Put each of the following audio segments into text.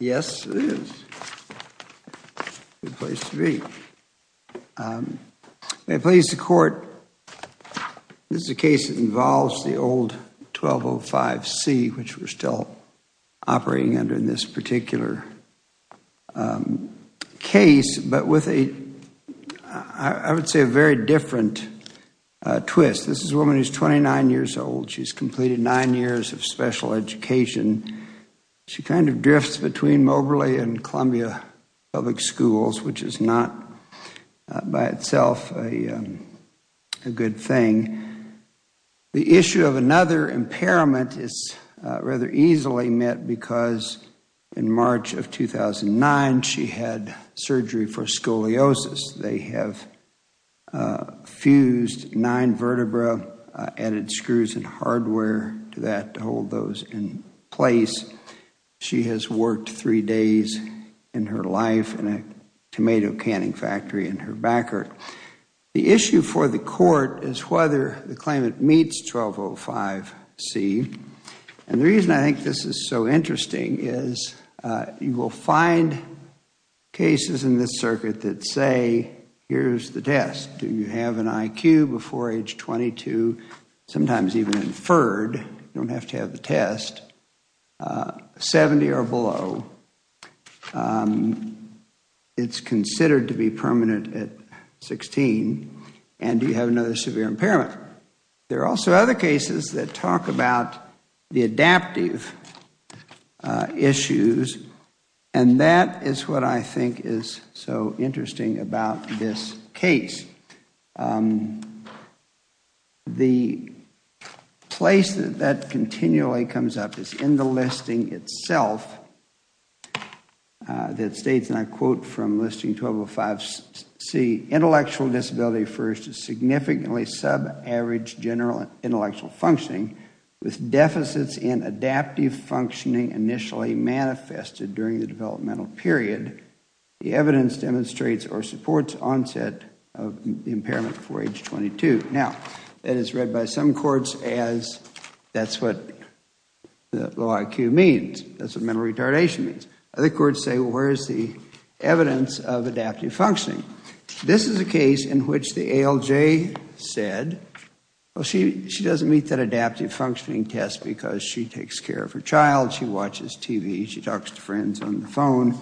Yes, it is. A good place to be. May it please the Court, this is a case that involves the old 1205C, which we're still operating under in this particular case, but with a, I would say a very different twist. This is a woman who's 29 years old. She's completed nine years of special education. She kind of drifts between Moberly and Columbia Public Schools, which is not by itself a good thing. The issue of another impairment is rather easily met because in March of 2009, she had surgery for scoliosis. They have fused nine vertebrae, added screws and hardware to that to hold those in place. She has worked three days in her life in a tomato canning factory in her backyard. The issue for the Court is whether the claimant meets 1205C. And the reason I think this is so interesting is you will find cases in this inferred, you don't have to have the test, 70 or below, it's considered to be permanent at 16, and you have another severe impairment. There are also other cases that talk about the adaptive issues, and that is what I think is so interesting about this case. The place that that continually comes up is in the listing itself that states, and I quote from Listing 1205C, intellectual disability refers to significantly sub-average general intellectual functioning with deficits in adaptive functioning initially manifested during the developmental period. The evidence demonstrates or supports onset of impairment before age 22. Now, that is read by some courts as that's what the log Q means, that's what mental retardation means. Other courts say, where is the evidence of adaptive functioning? This is a case in which the ALJ said, well, she doesn't meet that adaptive functioning test because she takes care of her child, she watches TV, she talks to friends on the phone.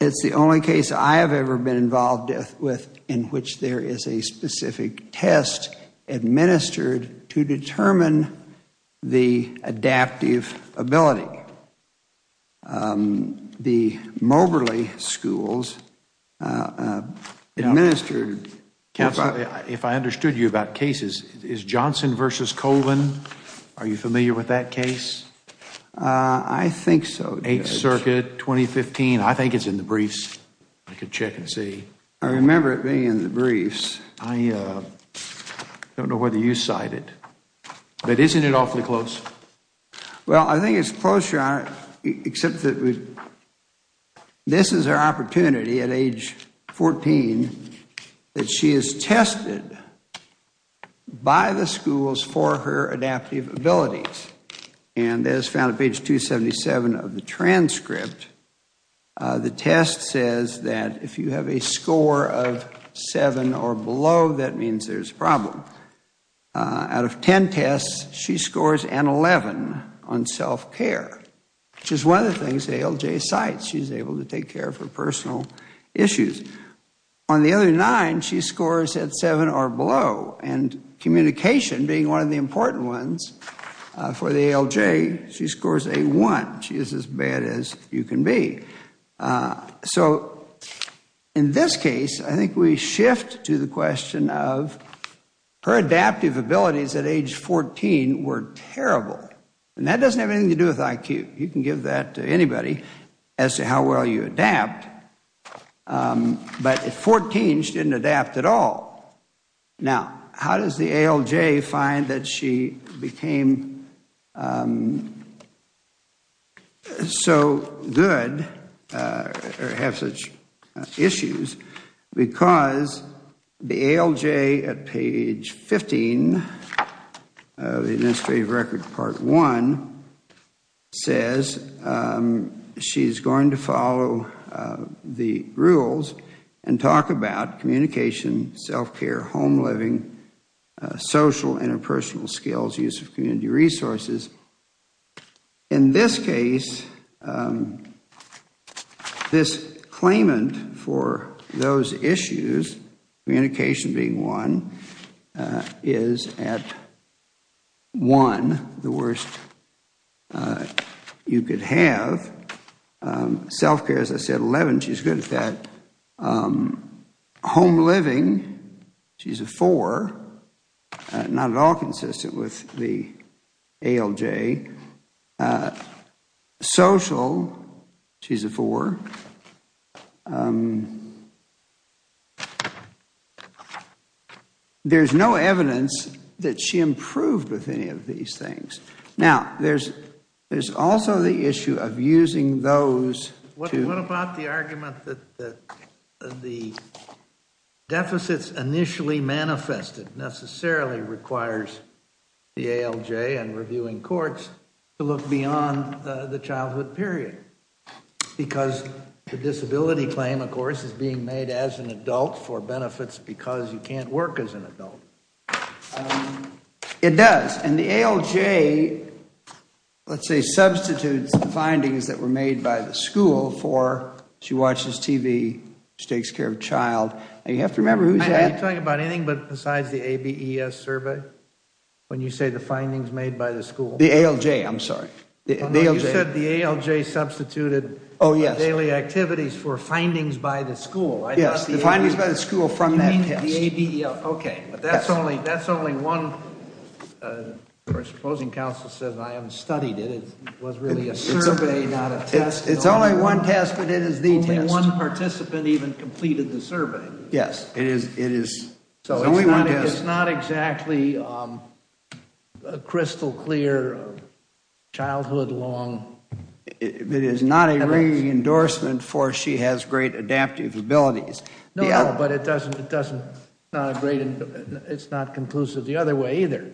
It's the only case I have ever been involved with in which there is a specific test administered to determine the adaptive ability. The Moberly schools administered Counselor, if I understood you about cases, is Johnson v. Colvin, are you familiar with that case? I think so, Judge. 8th Circuit, 2015, I think it's in the briefs. I can check and see. I remember it being in the briefs. I don't know whether you cite it, but isn't it awfully close? Well, I think it's close, Your Honor, except that this is our opportunity at age 14 that she is tested by the schools for her adaptive abilities. And as found at page 277 of the below, that means there's a problem. Out of 10 tests, she scores an 11 on self-care, which is one of the things the ALJ cites. She's able to take care of her personal issues. On the other nine, she scores at 7 or below. And communication being one of the important ones for the ALJ, she scores a 1. She is as bad as you can be. So in this case, I think we shift to the question of her adaptive abilities at age 14 were terrible. And that doesn't have anything to do with IQ. You can give that to anybody as to how well you adapt. But at 14, she didn't adapt at all. Now, how does the ALJ find that she became so good or have such issues? Because the ALJ at page 15 of the Administrative Record Part 1 says she's going to follow the rules and talk about communication, self-care, home living, social, interpersonal skills, use of community resources. In this case, this claimant for those issues, communication being one, is at 1, the worst you could have. Self-care, as I said, 11. She's good at that. Home living, she's a 4. Not at all consistent with the ALJ. Social, she's a 4. There's no evidence that she improved with any of these things. Now, there's also the issue of using those What about the argument that the deficits initially manifested necessarily requires the ALJ and reviewing courts to look beyond the childhood period? Because the disability claim, of course, is being made as an adult for benefits because you can't work as an school for she watches TV, she takes care of a child. You have to remember who's at Are you talking about anything besides the ABES survey? When you say the findings made by the school? The ALJ, I'm sorry. You said the ALJ substituted daily activities for findings by the school. Yes, the findings by the school from that test. You mean the ABEL. Okay. That's only one. Our supposing counsel says I haven't studied it. It was really a survey, not a one test, but it is the test. Only one participant even completed the survey. Yes, it is. It's not exactly crystal clear, childhood long. It is not a re-endorsement for she has great adaptive abilities. No, but it's not conclusive the other way either.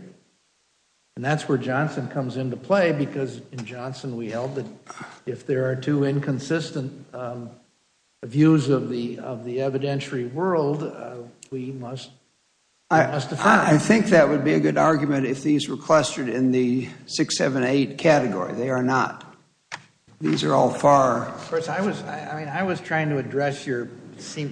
And that's where Johnson comes into play because in Johnson we held that if there are two inconsistent views of the evidentiary world, we must defend. I think that would be a good argument if these were clustered in the 6, 7, 8 category. They are not. These are all far. Of course, I was trying to address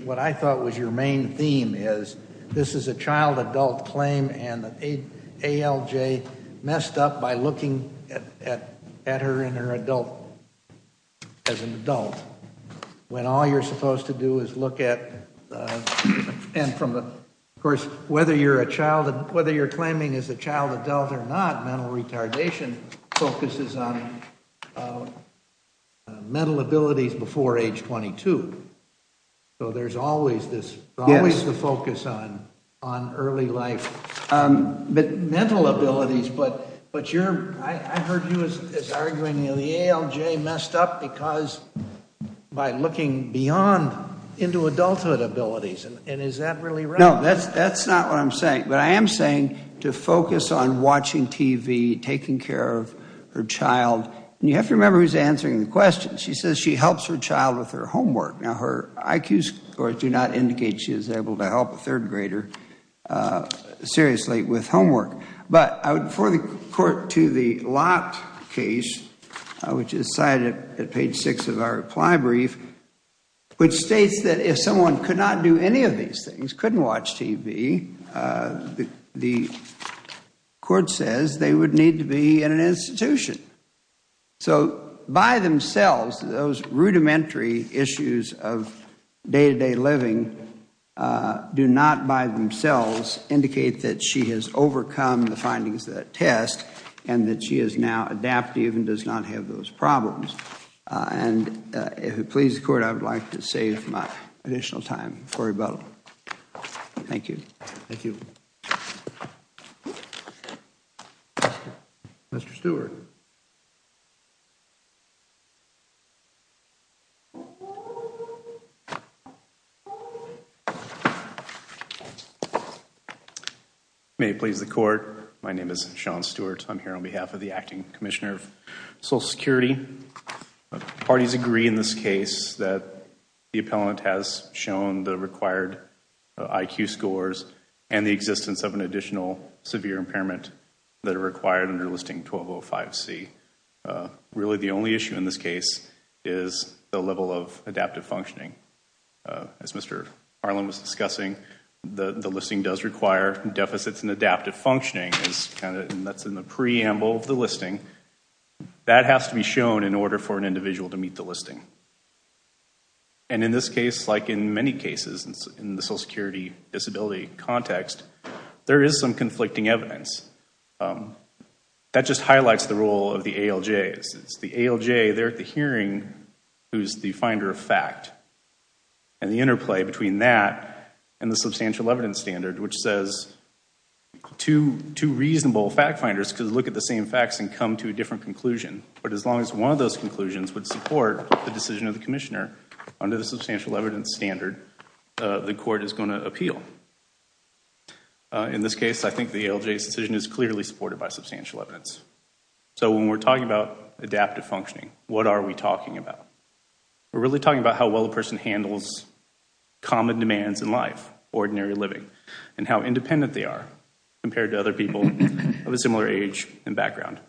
what I thought was your main theme is this is a child adult claim and the ALJ messed up by looking at her in her adult, as an adult, when all you're supposed to do is look at and from the, of course, whether you're a child, whether you're claiming as a child adult or not, mental retardation focuses on mental abilities before age 22. So there's always this, always the focus on early life, but mental abilities, but I heard you as arguing the ALJ messed up because by looking beyond into adulthood abilities and is that really right? No, that's not what I'm saying, but I am saying to focus on watching TV, taking care of her child. You have to remember who's answering the question. She says she helps her child with her homework. Now her IQ scores do not indicate she is able to help a third grader seriously with homework, but I would refer the court to the Lott case, which is cited at page 6 of our reply brief, which states that if someone could not do any of these things, couldn't watch TV, the court says they would need to be in an do not by themselves indicate that she has overcome the findings of that test and that she is now adaptive and does not have those problems. And if it pleases the court, I would like to save my additional time for rebuttal. Thank you. Thank you. Mr. Stewart. May it please the court. My name is Sean Stewart. I'm here on behalf of the Acting Commissioner of Social Security. Parties agree in this case that the appellant has shown the required IQ scores and the existence of an additional severe impairment that are required under Listing 1205C. Really the only issue in this case is the level of adaptive functioning. As Mr. Harlan was discussing, the listing does require deficits in adaptive functioning. That's in the preamble of the listing. That has to be shown in order for an individual to meet the listing. And in this case, like in many cases in the Social Security disability context, there is some conflicting evidence. That just highlights the role of the ALJ. It's the ALJ there at the hearing who's the finder of fact. And the interplay between that and the substantial evidence standard, which says two reasonable fact finders could look at the same facts and come to a different conclusion. But as long as one of those conclusions would support the decision of the Commissioner under the substantial evidence standard, the court is going to appeal. In this case, I think the ALJ's decision is clearly supported by substantial evidence. So when we're talking about adaptive functioning, what are we talking about? We're really talking about how well the person handles common demands in life, ordinary living, and how independent they are compared to other people of a similar age and background.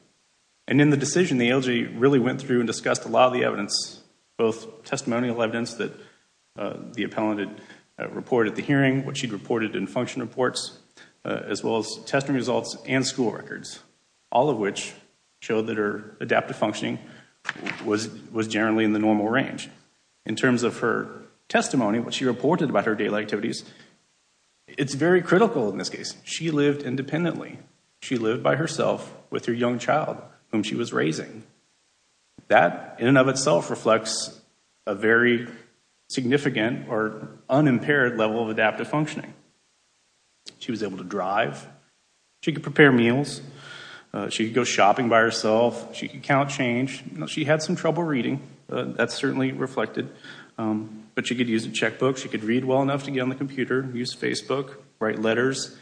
And in the decision, the ALJ really went through and discussed a lot of the evidence, both testimonial evidence that the appellant had reported at the hearing, what she'd reported in function reports, as well as testing results and school records, all of which showed that her adaptive functioning was generally in the normal range. In terms of her testimony, what she reported about her daily activities, it's very critical in this case. She lived independently. She lived by herself with her young child, whom she was raising. That, in and of itself, reflects a very significant or unimpaired level of adaptive functioning. She was able to drive. She could prepare meals. She could go shopping by herself. She could count change. She had some trouble reading. That's certainly reflected. But she could use a checkbook. She could read well enough to get on the computer, use Facebook, write letters.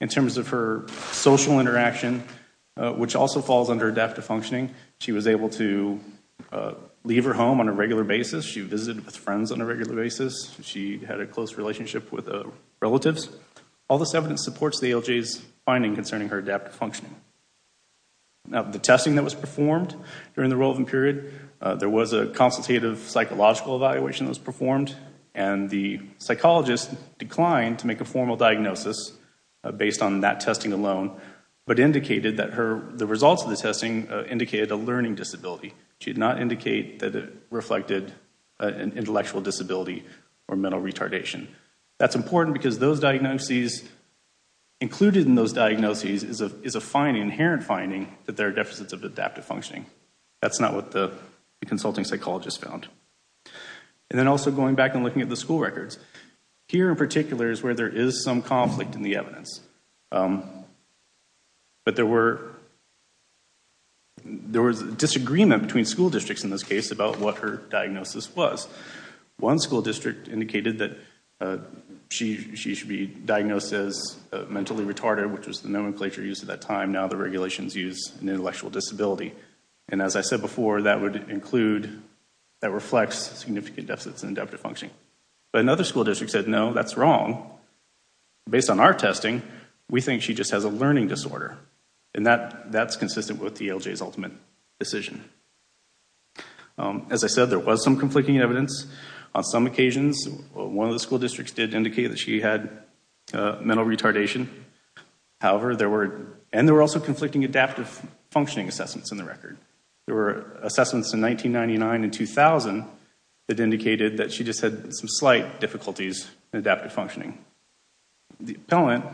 In which also falls under adaptive functioning, she was able to leave her home on a regular basis. She visited with friends on a regular basis. She had a close relationship with relatives. All this evidence supports the ALJ's finding concerning her adaptive functioning. Now, the testing that was performed during the Rolovan period, there was a consultative psychological evaluation that was performed, and the psychologist declined to comment that the results of the testing indicated a learning disability. She did not indicate that it reflected an intellectual disability or mental retardation. That's important because those diagnoses included in those diagnoses is a finding, inherent finding, that there are deficits of adaptive functioning. That's not what the consulting psychologist found. And then also going back and looking at the school records, here in particular is some conflict in the evidence. But there was disagreement between school districts in this case about what her diagnosis was. One school district indicated that she should be diagnosed as mentally retarded, which was the nomenclature used at that time. Now the regulations use an intellectual disability. And as I said before, that would include, that reflects significant deficits in adaptive functioning. But another school district said, no, that's wrong. Based on our testing, we think she just has a learning disorder. And that's consistent with the ALJ's ultimate decision. As I said, there was some conflicting evidence. On some occasions, one of the school districts did indicate that she had mental retardation. However, there were, and it indicated that she just had some slight difficulties in adaptive functioning. The appellant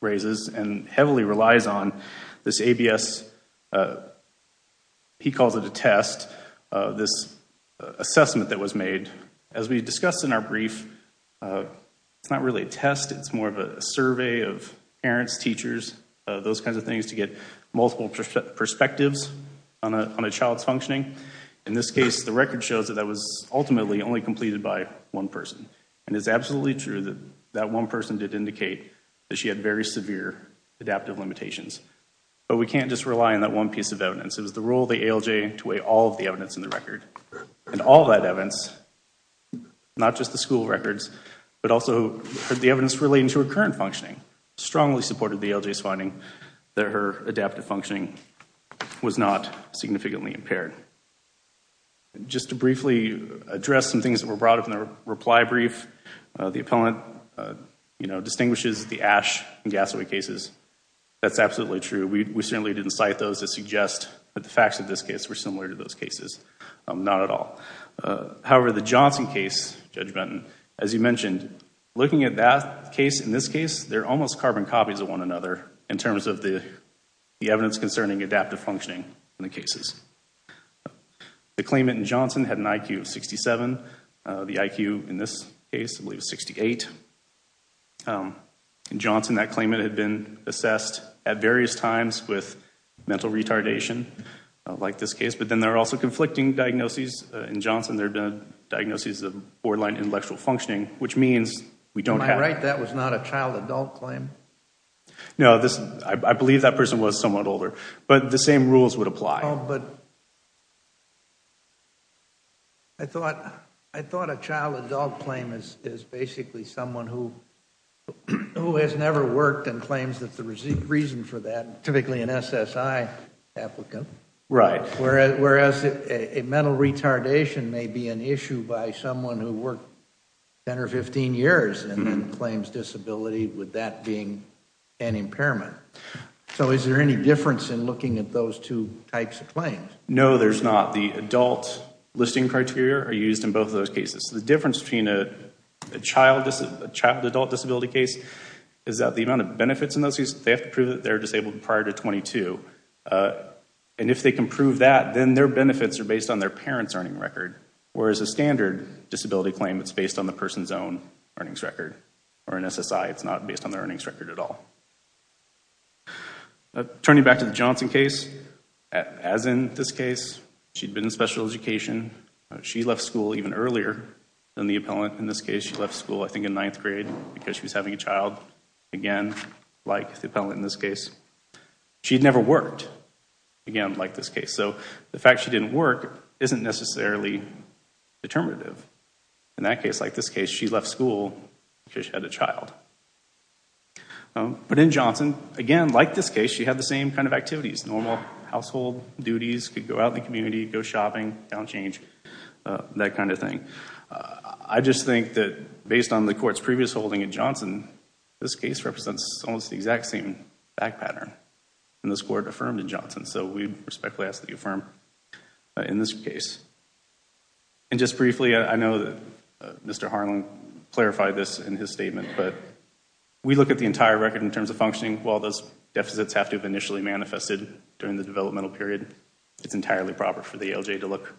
raises and heavily relies on this ABS, he calls it a test, this assessment that was made. As we discussed in our brief, it's not really a test. It's more of a survey of parents, teachers, those kinds of things to get multiple perspectives on a child's functioning. In this case, the record shows that was ultimately only completed by one person. And it's absolutely true that that one person did indicate that she had very severe adaptive limitations. But we can't just rely on that one piece of evidence. It was the role of the ALJ to weigh all of the evidence in the record. And all that evidence, not just the school records, but also the evidence relating to her current functioning, strongly supported the ALJ's that her adaptive functioning was not significantly impaired. Just to briefly address some things that were brought up in the reply brief, the appellant distinguishes the ash and gasoil cases. That's absolutely true. We certainly didn't cite those to suggest that the facts of this case were similar to those cases. Not at all. However, the Johnson case, Judge Benton, as you mentioned, looking at that case and this case, they're different in terms of the evidence concerning adaptive functioning in the cases. The claimant in Johnson had an IQ of 67. The IQ in this case I believe is 68. In Johnson, that claimant had been assessed at various times with mental retardation, like this case. But then there are also conflicting diagnoses. In Johnson, there have been diagnoses of borderline intellectual functioning, which means we don't have... No, I believe that person was somewhat older. But the same rules would apply. Oh, but I thought a child adult claim is basically someone who has never worked and claims that the reason for that, typically an SSI applicant. Right. Whereas a mental retardation may be an issue by someone who worked 10 or 15 years and then claims disability with that being an impairment. So is there any difference in looking at those two types of claims? No, there's not. The adult listing criteria are used in both of those cases. The difference between a child adult disability case is that the amount of that, then their benefits are based on their parents' earning record. Whereas a standard disability claim, it's based on the person's own earnings record. Or an SSI, it's not based on their earnings record at all. Turning back to the Johnson case, as in this case, she'd been in special education. She left school even earlier than the appellant in this case. She left school, I think, in ninth grade because she was having a child, again, like the appellant in this case. She'd never worked, again, like this case. So the fact she didn't work isn't necessarily determinative. In that case, like this case, she left school because she had a child. But in Johnson, again, like this case, she had the same kind of activities. Normal household duties, could go out in the community, go shopping, downchange, that kind of thing. I just think that based on the court's previous holding in Johnson, this case represents almost the exact same back that you affirm in this case. And just briefly, I know that Mr. Harlan clarified this in his statement, but we look at the entire record in terms of functioning. While those deficits have to have initially manifested during the developmental period, it's entirely proper for the ALJ to look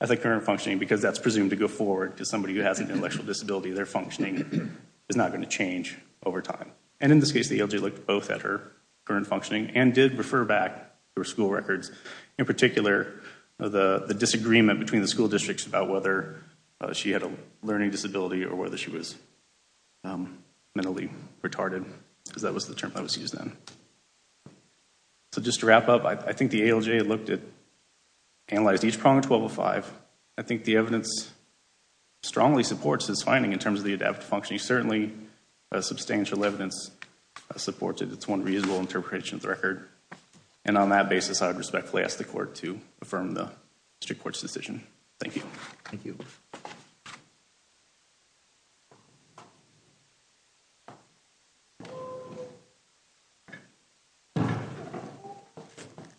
at the current functioning because that's presumed to go forward to somebody who has an intellectual disability. Their functioning is not going to change over time. And in this case, the ALJ looked both at her current functioning and did refer back to her school records, in particular, the disagreement between the school districts about whether she had a learning disability or whether she was mentally retarded, because that was the term that was used then. So just to wrap up, I think the ALJ looked at, analyzed each prong of 1205. I think the evidence strongly supports this finding in terms of the substantial evidence supported. It's one reasonable interpretation of the record. And on that basis, I would respectfully ask the court to affirm the district court's decision. Thank you. Thank you.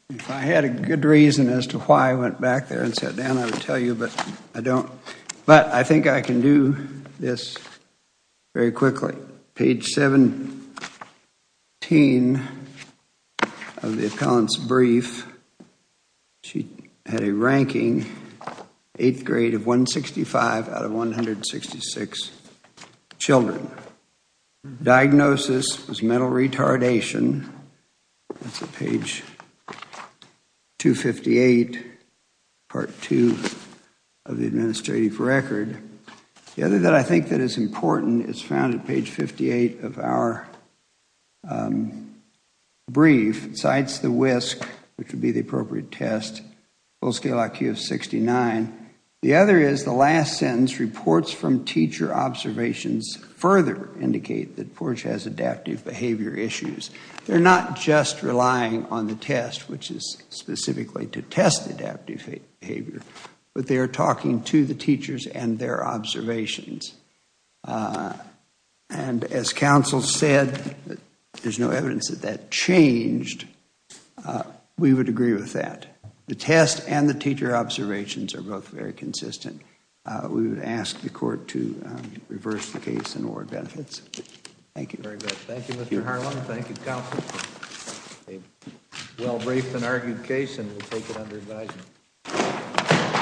If I had a good reason as to why I went back there and sat down, I would tell you, but I don't. But I think I can do this very quickly. Page 17 of the 166 children. Diagnosis was mental retardation. That's at page 258, part two of the administrative record. The other that I think that is important is found at page 58 of our brief, cites the WISC, which would be the last sentence, reports from teacher observations further indicate that Portia has adaptive behavior issues. They're not just relying on the test, which is specifically to test adaptive behavior, but they are talking to the teachers and their observations. And as counsel said, there's no evidence that that changed. We would agree with that. The test and the teacher observations are both very consistent. We would ask the court to reverse the case and award benefits. Thank you. Very good. Thank you, Mr. Harlan. Thank you, counsel. A well-briefed and argued case, and we'll take it under advisement.